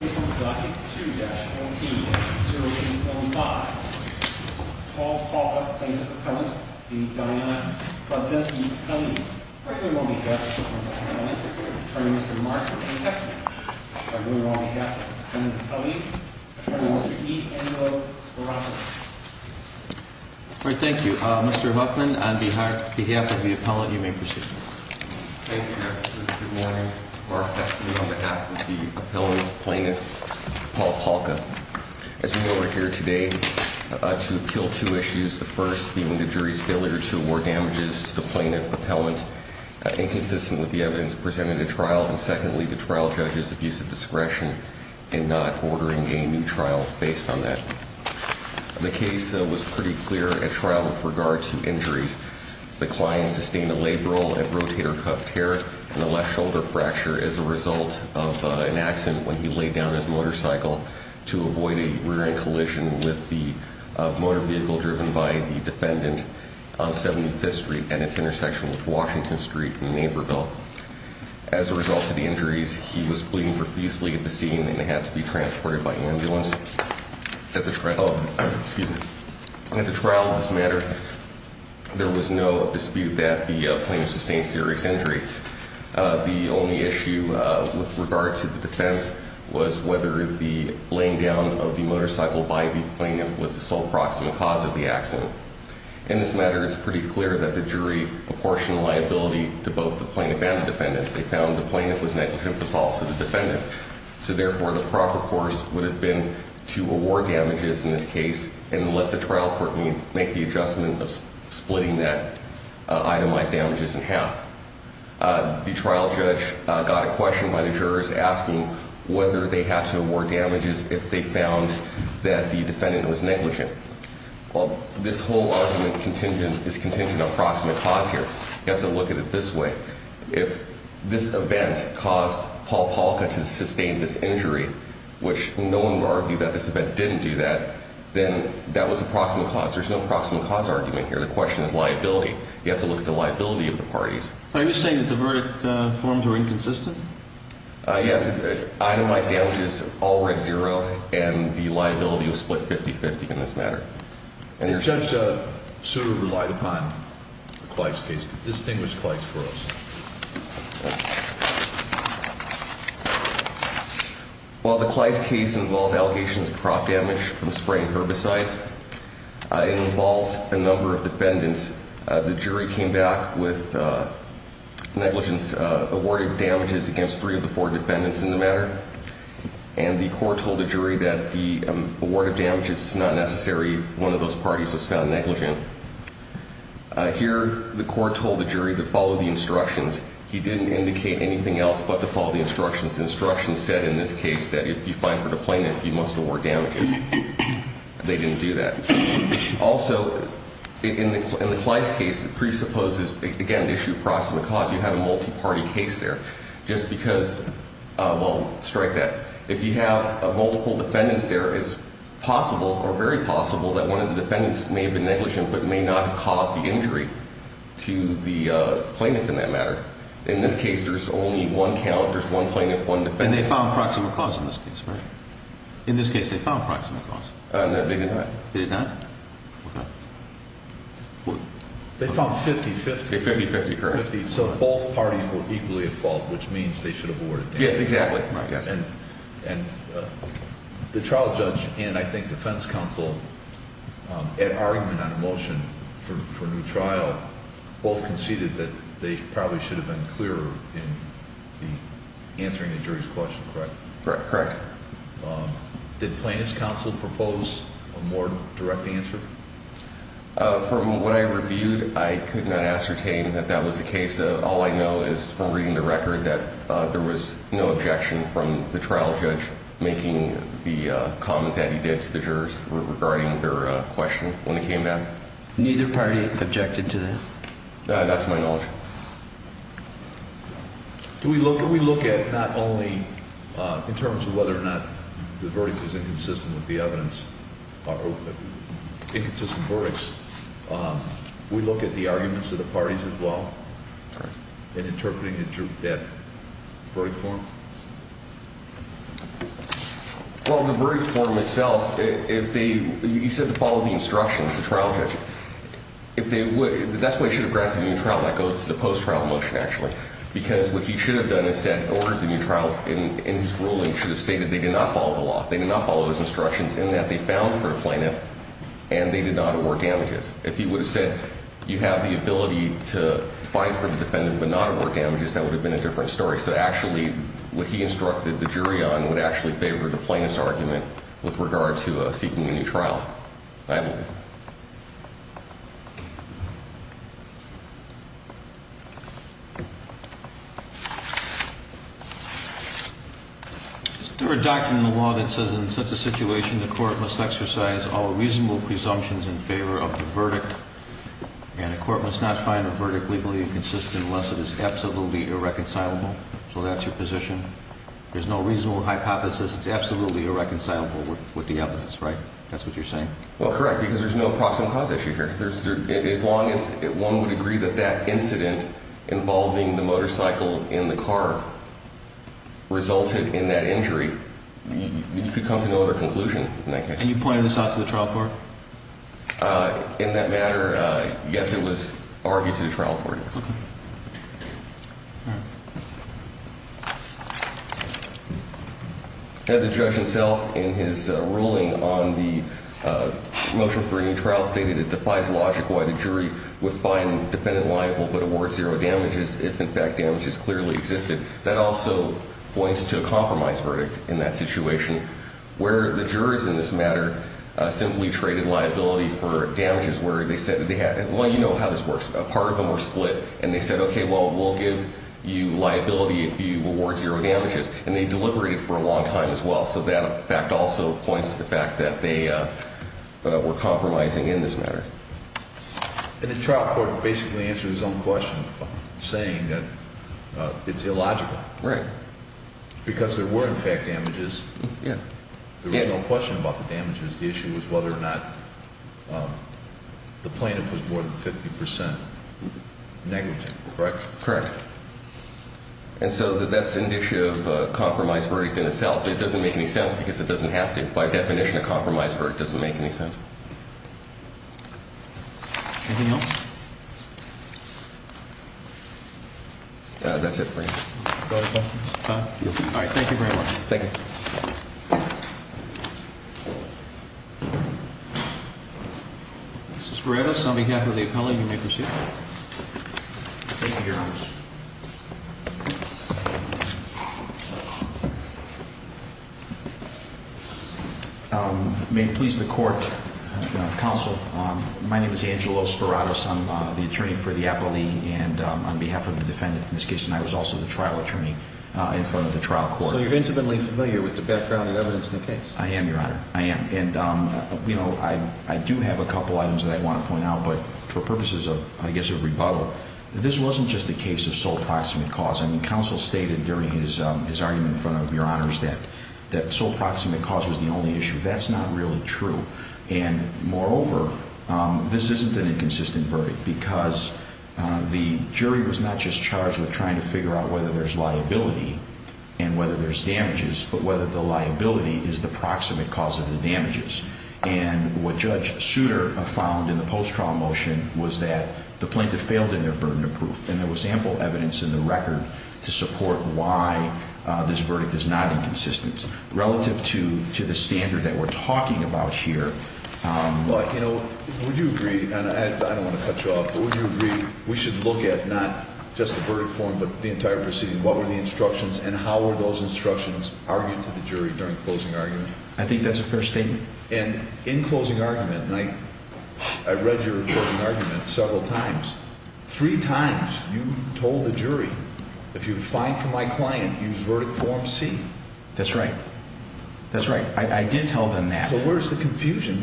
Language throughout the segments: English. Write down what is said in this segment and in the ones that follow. Appendix 2-14-0805. Paul Palka, plaintiff's appellant, v. Dionne, Prodzenski, appellant, regularly on behalf of the plaintiff's appellant, attorney Mr. Mark Hexton, regularly on behalf of the defendant's appellant, attorney Mr. E. Angelo Sparocco. All right, thank you. Mr. Huffman, on behalf of the appellant, you may proceed. Thank you, Justice. Good morning. Mark Hexton on behalf of the appellant's plaintiff, Paul Palka. As you know, we're here today to appeal two issues. The first being the jury's failure to award damages to the plaintiff's appellant inconsistent with the evidence presented at trial. And secondly, the trial judge's abuse of discretion in not ordering a new trial based on that. The case was pretty clear at trial with regard to injuries. The client sustained a labral and rotator cuff tear and a left shoulder fracture as a result of an accident when he laid down his motorcycle to avoid a rear end collision with the motor vehicle driven by the defendant on 75th Street and its intersection with Washington Street in Naperville. As a result of the injuries, he was bleeding profusely at the scene and had to be transported by ambulance. At the trial of this matter, there was no dispute that the plaintiff sustained serious injury. The only issue with regard to the defense was whether the laying down of the motorcycle by the plaintiff was the sole proximate cause of the accident. In this matter, it's pretty clear that the jury apportioned liability to both the plaintiff and the defendant. They found the to award damages in this case and let the trial court make the adjustment of splitting that itemized damages in half. The trial judge got a question by the jurors asking whether they had to award damages if they found that the defendant was negligent. Well, this whole argument is contingent on proximate cause here. You have to look at it this way. If this event caused Paul Polka to argue that this event didn't do that, then that was the proximate cause. There's no proximate cause argument here. The question is liability. You have to look at the liability of the parties. Are you saying that the verdict forms were inconsistent? Yes. Itemized damages all read zero and the liability was split 50-50 in this matter. The judge sort of relied upon the distinguished Kleist case. While the Kleist case involved allegations of crop damage from spraying herbicides, it involved a number of defendants. The jury came back with negligence, awarded damages against three of the four defendants in the matter, and the court told the jury that the award of damages is not necessary if one of those parties was found negligent. Here, the court told the jury to follow the instructions. He didn't indicate anything else but to follow the instructions. The instructions said in this case that if you find for the plaintiff, you must award damages. They didn't do that. Also, in the Kleist case, it presupposes, again, the issue of proximate cause. You have a multi-party case there. Just because, well, strike that. If you have multiple defendants there, it's possible or very possible that one of the defendants may not have caused the injury to the plaintiff in that matter. In this case, there's only one count. There's one plaintiff, one defendant. And they found proximate cause in this case, right? In this case, they found proximate cause. No, they did not. They did not? They found 50-50. 50-50, correct. So both parties were equally at fault, which means they should have awarded damages. Yes, exactly. And the trial judge and, I think, defense counsel, at argument on a motion for a new trial, both conceded that they probably should have been clearer in answering the jury's question, correct? Correct, correct. Did plaintiff's counsel propose a more direct answer? From what I reviewed, I could not ascertain that that was the case. All I know is from reading the record that there was no objection from the trial judge making the comment that he did to the jurors regarding their question when it came down. Neither party objected to that? That's my knowledge. Do we look at not only in terms of whether or not the verdict is inconsistent with the evidence, inconsistent verdicts, we look at the arguments of the parties as well, in interpreting that verdict form? Well, the verdict form itself, if they, you said to follow the instructions, the trial judge, if they would, that's why you should have grabbed the new trial, that goes to the post-trial motion, actually, because what he should have done is said, ordered the new trial, in his ruling, should have stated they did not follow the law. They did not follow those instructions in that they found for a plaintiff and they did not award damages. If he would have said, you have the ability to find for the defendant but not award damages, that would have been a different story. So actually, what he instructed the jury on would actually favor the plaintiff's argument with regard to seeking a new trial. I have nothing. Is there a doctrine in the law that says in such a situation the court must exercise all and the court must not find a verdict legally inconsistent unless it is absolutely irreconcilable? So that's your position? There's no reasonable hypothesis, it's absolutely irreconcilable with the evidence, right? That's what you're saying? Well, correct, because there's no proximal cause issue here. As long as one would agree that that incident involving the motorcycle in the car resulted in that injury, you could come to no other conclusion. And you pointed this out to the trial court? In that matter, yes, it was argued to the trial court. Had the judge himself in his ruling on the motion for a new trial stated it defies logic why the jury would find the defendant liable but award zero damages if in fact damages clearly existed? That also points to a compromise verdict in that situation where the jurors in this matter simply traded liability for damages where they said that they had, well, you know how this works. Part of them were split and they said, okay, well, we'll give you liability if you award zero damages. And they deliberated for a long time as well. So that fact also points to the fact that they were compromising in this matter. And the trial court basically answered his own question saying that it's illogical because there were in fact damages. There was no question about the damages. The issue was whether or not the plaintiff was more than 50% negative, correct? Correct. And so that's an issue of a compromise verdict in itself. It doesn't make any sense because it doesn't have to. By definition, a compromise verdict doesn't make any sense. Anything else? That's it. All right. Thank you very much. Thank you. Mrs. Veritas, on behalf of the appellate, you may proceed. Thank you, Your Honor. May it please the court, counsel, my name is Angelo Speratos. I'm the attorney for the appellee and on behalf of the defendant in this case, and I was also the trial attorney in front of the trial court. So you're intimately familiar with the background and evidence in the case? I am, Your Honor. I am. And, you know, I do have a couple items that I want to point out, but for purposes of, I guess, of rebuttal, this wasn't just the case of sole proximate cause. I mean, counsel stated during his argument in front of Your Honors that sole proximate cause was the only issue. That's not really true. And moreover, this isn't an inconsistent verdict because the jury was not just charged with trying to figure out whether there's liability and whether there's damages, but whether the liability is the proximate cause of the damages. And what Judge Souter found in the post-trial motion was that the plaintiff failed in their burden of proof, and there was ample evidence in the record to support why this verdict is not inconsistent relative to the standard that we're talking about here. But, you know, would you agree, and I don't want to cut you off, but would you agree we should look at not just the verdict form, but the entire proceeding? What were the instructions and how were those And in closing argument, and I read your closing argument several times, three times you told the jury, if you're fine for my client, use verdict form C. That's right. That's right. I did tell them that. So where's the confusion?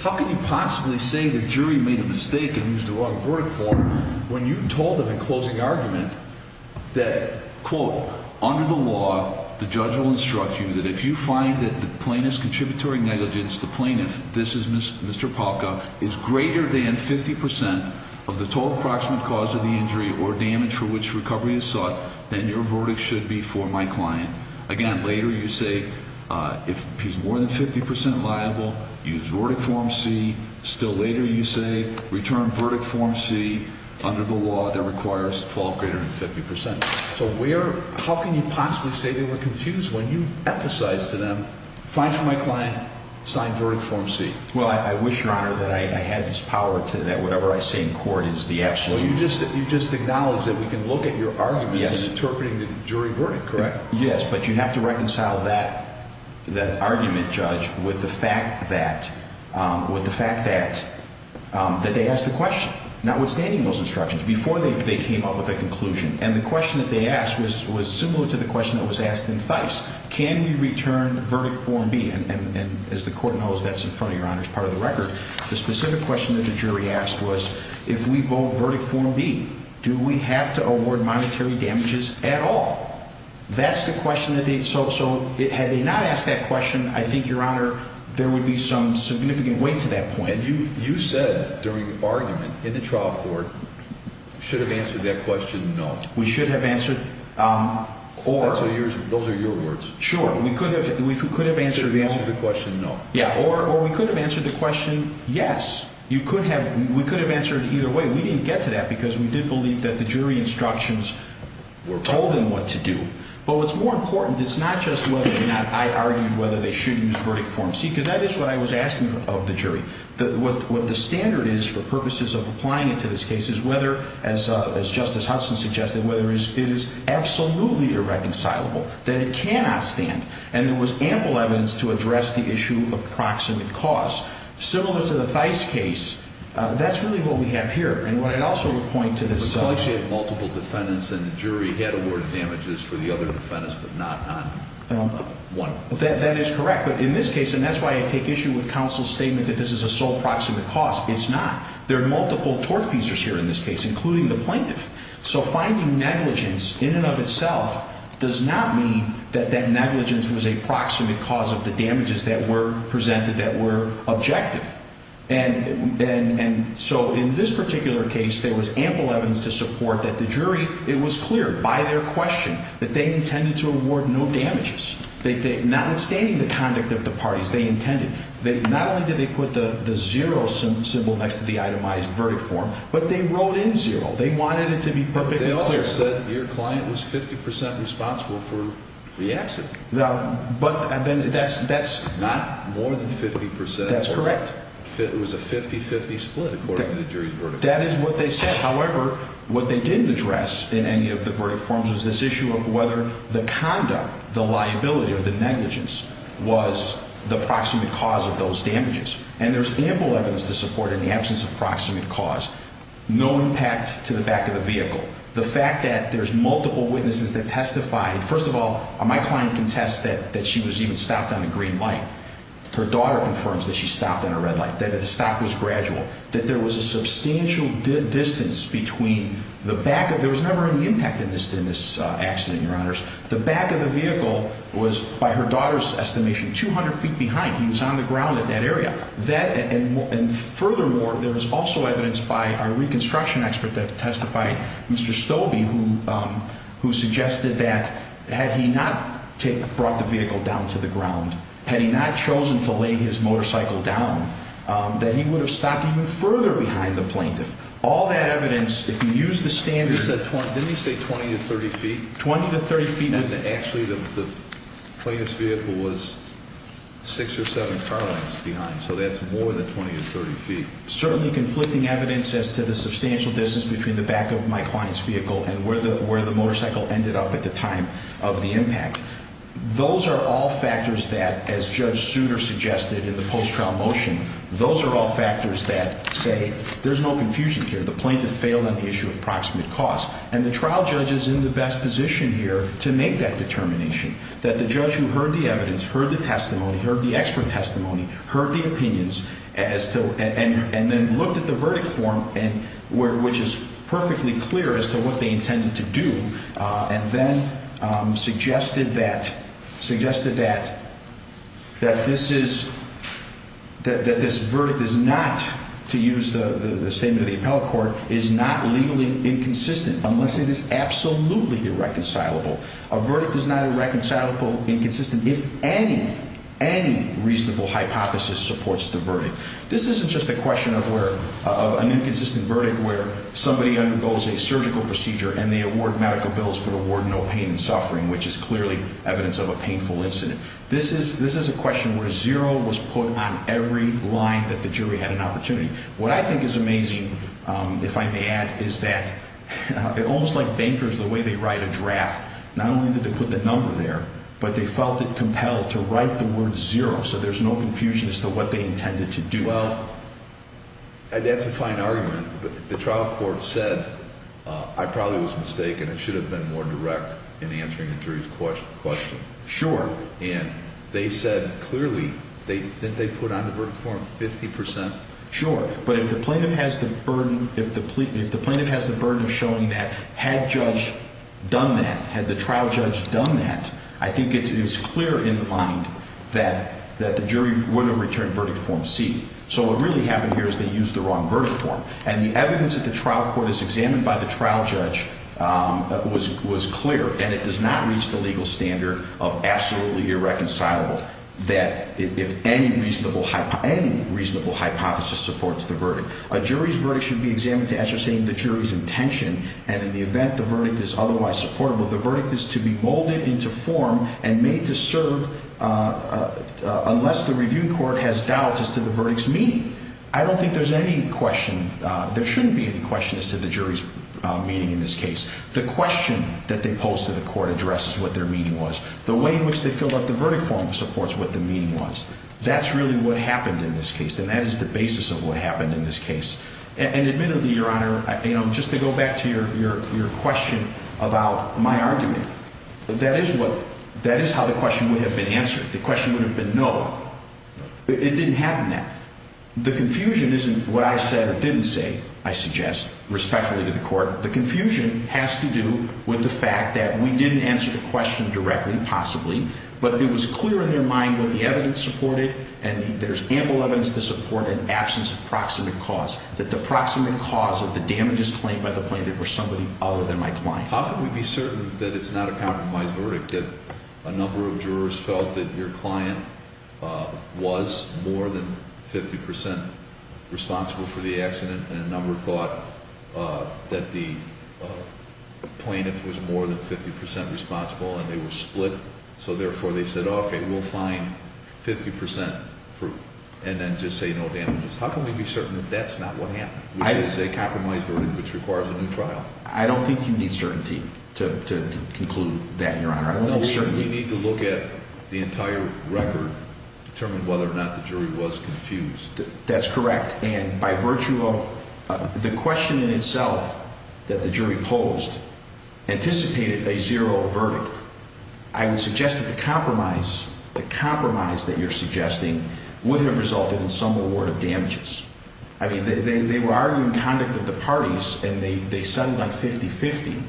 How can you possibly say the jury made a mistake and used the wrong verdict form when you told them in closing argument that, quote, under the law, the judge will instruct you that if you find that the plaintiff's contributory negligence, the plaintiff, this is Mr. Palka, is greater than 50% of the total approximate cause of the injury or damage for which recovery is sought, then your verdict should be for my client. Again, later you say, if he's more than 50% liable, use verdict form C. Still later you say, return verdict form C under the law that requires the fault greater than 50%. So where, how can you possibly say they were confused when you emphasize to them, fine for my client, sign verdict form C? Well, I wish, Your Honor, that I had this power to that whatever I say in court is the absolute. You just acknowledge that we can look at your arguments interpreting the jury verdict, correct? Yes, but you have to reconcile that argument, Judge, with the fact that they asked the question, notwithstanding those instructions, before they came up with a conclusion. And the question that was asked in Thijs, can we return verdict form B? And as the court knows, that's in front of Your Honor's part of the record. The specific question that the jury asked was, if we vote verdict form B, do we have to award monetary damages at all? That's the question that they, so had they not asked that question, I think, Your Honor, there would be some significant weight to that point. You said during the argument in the trial court, should have answered that question, no. We should have answered, or, those are your words. Sure, we could have, we could have answered the question, no. Yeah, or we could have answered the question, yes. You could have, we could have answered either way. We didn't get to that because we did believe that the jury instructions were told them what to do. But what's more important, it's not just whether or not I argued whether they should use verdict form C, because that is what I was asking of the jury, that what the standard is for purposes of applying it to this case is whether, as Justice Hudson suggested, whether it is absolutely irreconcilable, that it cannot stand. And there was ample evidence to address the issue of proximate cause. Similar to the Theis case, that's really what we have here. And what I'd also point to this, Reflection of multiple defendants, and the jury had awarded damages for the other defendants, but not on one. That is correct. But in this case, and that's why I take issue with counsel's statement that this is a sole proximate cause. It's not. There are negligence in and of itself does not mean that that negligence was a proximate cause of the damages that were presented that were objective. And so in this particular case, there was ample evidence to support that the jury, it was clear by their question that they intended to award no damages. Notwithstanding the conduct of the parties, they intended, not only did they put the zero symbol next to the itemized verdict form, but they wrote in zero. They wanted it to be perfectly clear. But they also said your client was 50% responsible for the accident. No, but and then that's, that's not more than 50%. That's correct. It was a 50-50 split according to the jury's verdict. That is what they said. However, what they didn't address in any of the verdict forms was this issue of whether the conduct, the liability, or the negligence was the proximate cause of those damages. And there's ample evidence to support in the absence of proximate cause, no impact to the back of the vehicle. The fact that there's multiple witnesses that testified, first of all, my client can test that, that she was even stopped on a green light. Her daughter confirms that she stopped on a red light, that the stop was gradual, that there was a substantial distance between the back of, there was never any impact in this, in this accident, your honors. The back of the vehicle was by her daughter's estimation, 200 feet behind. He was on the ground at that area. That, and furthermore, there was also evidence by our reconstruction expert that testified, Mr. Stolbe, who, who suggested that had he not taken, brought the vehicle down to the ground, had he not chosen to lay his motorcycle down, that he would have stopped even further behind the plaintiff. All that evidence, if you use the standard. He said 20, 30 feet, 20 to 30 feet. And actually the plaintiff's vehicle was six or seven car lines behind. So that's more than 20 to 30 feet. Certainly conflicting evidence as to the substantial distance between the back of my client's vehicle and where the, where the motorcycle ended up at the time of the impact. Those are all factors that as judge Souter suggested in the post-trial motion, those are all factors that say there's no confusion here. The plaintiff failed on the cause and the trial judge is in the best position here to make that determination. That the judge who heard the evidence, heard the testimony, heard the expert testimony, heard the opinions as to, and then looked at the verdict form and where, which is perfectly clear as to what they intended to do. And then suggested that, suggested that, that this is, that this verdict is not, to use the statement of the appellate court, is not legally inconsistent unless it is absolutely irreconcilable. A verdict is not irreconcilable, inconsistent, if any, any reasonable hypothesis supports the verdict. This isn't just a question of where, of an inconsistent verdict where somebody undergoes a surgical procedure and they award medical bills for the ward, no pain and suffering, which is clearly evidence of a painful incident. This is, this is a question where zero was put on every line that the jury had an opportunity. What I think is amazing, if I may add, is that almost like bankers, the way they write a draft, not only did they put the number there, but they felt it compelled to write the word zero. So there's no confusion as to what they intended to do. Well, that's a fine argument, but the trial court said, I probably was mistaken. It should have been more direct in answering the jury's question. Sure. And they said clearly they, that they put on the verdict form 50%. Sure. But if the plaintiff has the burden, if the plea, if the plaintiff has the burden of showing that had judge done that, had the trial judge done that, I think it's, it is clear in the mind that, that the jury would have returned verdict form C. So what really happened here is they used the wrong verdict form. And the evidence that the trial court has examined by the trial judge was clear. And it does not reach the legal standard of absolutely irreconcilable that if any reasonable, any reasonable hypothesis supports the verdict. A jury's verdict should be examined to as you're saying the jury's intention. And in the event, the verdict is otherwise supportable. The verdict is to be molded into form and made to serve unless the review court has doubts as to the verdict's meaning. I don't think there's any question. There shouldn't be any question as to the jury's meaning in this case. The question that they posed to the court addresses what their meaning was, the way in which they filled out the verdict form supports what the meaning was. That's really what happened in this case. And that is the basis of what happened in this case. And admittedly, your honor, you know, just to go back to your, your, your question about my argument, that is what, that is how the question would have been answered. The question would have been, no, it didn't happen that the confusion isn't what I said or didn't say. I suggest respectfully to the court, the confusion has to do with the fact that we didn't answer the question directly possibly, but it was clear in their mind what the evidence supported. And there's ample evidence to support an absence of proximate cause that the proximate cause of the damages claimed by the plaintiff were somebody other than my client. How can we be certain that it's not a compromise verdict that a number of jurors felt that your client was more than 50% responsible for the accident? And a number thought that the plaintiff was more than 50% responsible and they were split. So therefore they said, okay, we'll find 50% through and then just say no damages. How can we be certain that that's not what happened? Which is a compromise verdict, which requires a new trial. I don't think you need certainty to conclude that, your honor. No, you need to look at the entire record, determine whether or not the jury was confused. That's correct. And by virtue of the question in itself that the jury posed, anticipated a zero verdict. I would suggest that the compromise, the compromise that you're suggesting would have resulted in some award of damages. I mean, they were arguing conduct at the parties and they settled like 50-50,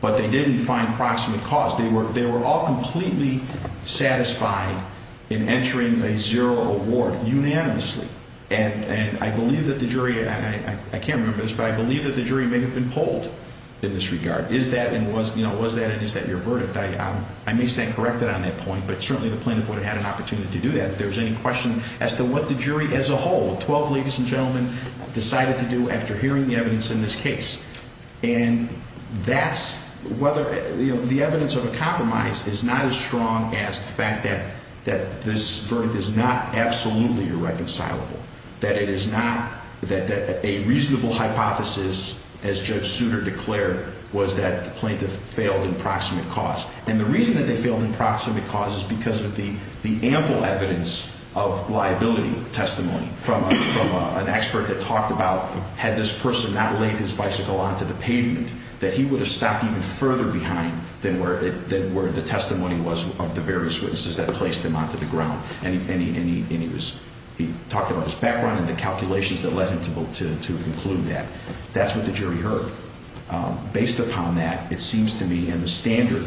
but they didn't find proximate cause. They were all completely satisfied in entering a zero award unanimously. And I believe that the jury, and I can't remember this, but I believe that the jury may have been polled in this regard. Is that, and was that, and is that your verdict? I may stand corrected on that point, but certainly the plaintiff would have had an opportunity to do that if there was any question as to what the jury as a whole, 12 ladies and gentlemen, decided to do after hearing the evidence in this case. And that's whether, you know, the evidence of a compromise is not as strong as the fact that, that this verdict is not absolutely irreconcilable, that it is not, that a reasonable hypothesis, as Judge Souter declared, was that the plaintiff failed in proximate cause. And the reason that they failed in proximate cause is because of the ample evidence of liability testimony from an expert that talked about, had this person not laid his bicycle onto the pavement, that he would have stopped even further behind than where the testimony was of the various witnesses that placed him onto the ground. And he was, he talked about his background and the calculations that led him to conclude that. That's what the jury heard. Based upon that, it seems to me in the standard,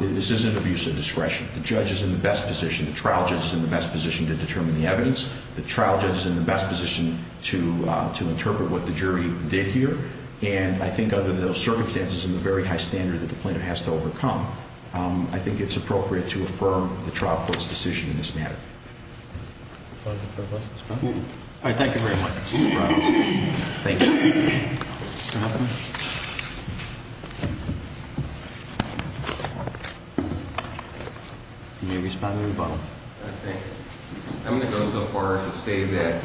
this isn't abuse of discretion. The judge is in the best position, the trial judge is in the best position to determine the evidence, the trial judge is in the best position to, to interpret what the jury did here. And I think under those circumstances and the very high standard that the plaintiff has to overcome, I think it's appropriate to affirm the trial court's decision in this matter. All right. Thank you very much. Thank you. Mr. Hoffman? You may respond to the bottom. I'm going to go so far as to say that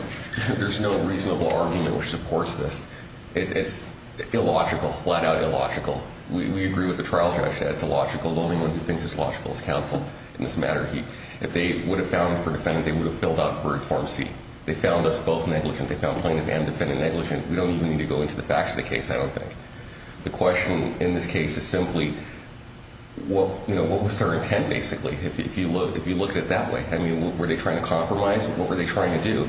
there's no reasonable argument which supports this. It's illogical, flat out illogical. We agree with the trial judge that it's illogical. The only one who thinks it's logical is counsel in this matter. If they would have found for defendant, they would have filled out for a torm C. They found us both negligent. They found plaintiff and defendant negligent. We don't even need to go into the facts of the case, I don't think. The question in this case is simply, what, you know, what was their intent basically? If you look, if you look at it that way, I mean, were they trying to compromise? What were they trying to do?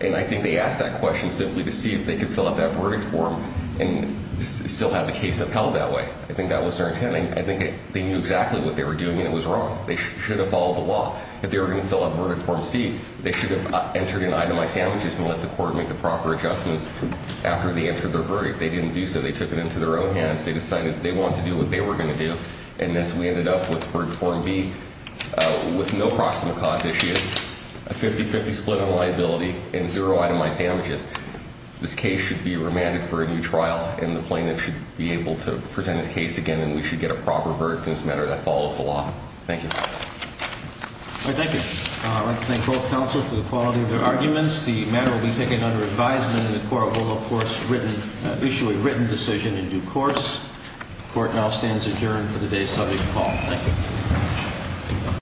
And I think they asked that question simply to see if they could fill out that verdict form and still have the case upheld that way. I think that was their intent. I think they knew exactly what they were doing and it was wrong. They should have followed the law. If they were going to fill out verdict form C, they should have entered in itemized damages and let the court make the after they entered their verdict. They didn't do so. They took it into their own hands. They decided that they wanted to do what they were going to do. And this, we ended up with for form B with no proximate cause issue, a 50 50 split on liability and zero itemized damages. This case should be remanded for a new trial and the plaintiff should be able to present his case again and we should get a proper verdict in this matter that follows the law. Thank you. All right. Thank you. I'd like to thank both counsel for the quality of their arguments. The matter will be under advisement and the court will of course issue a written decision in due course. The court now stands adjourned for the day's subject call. Thank you.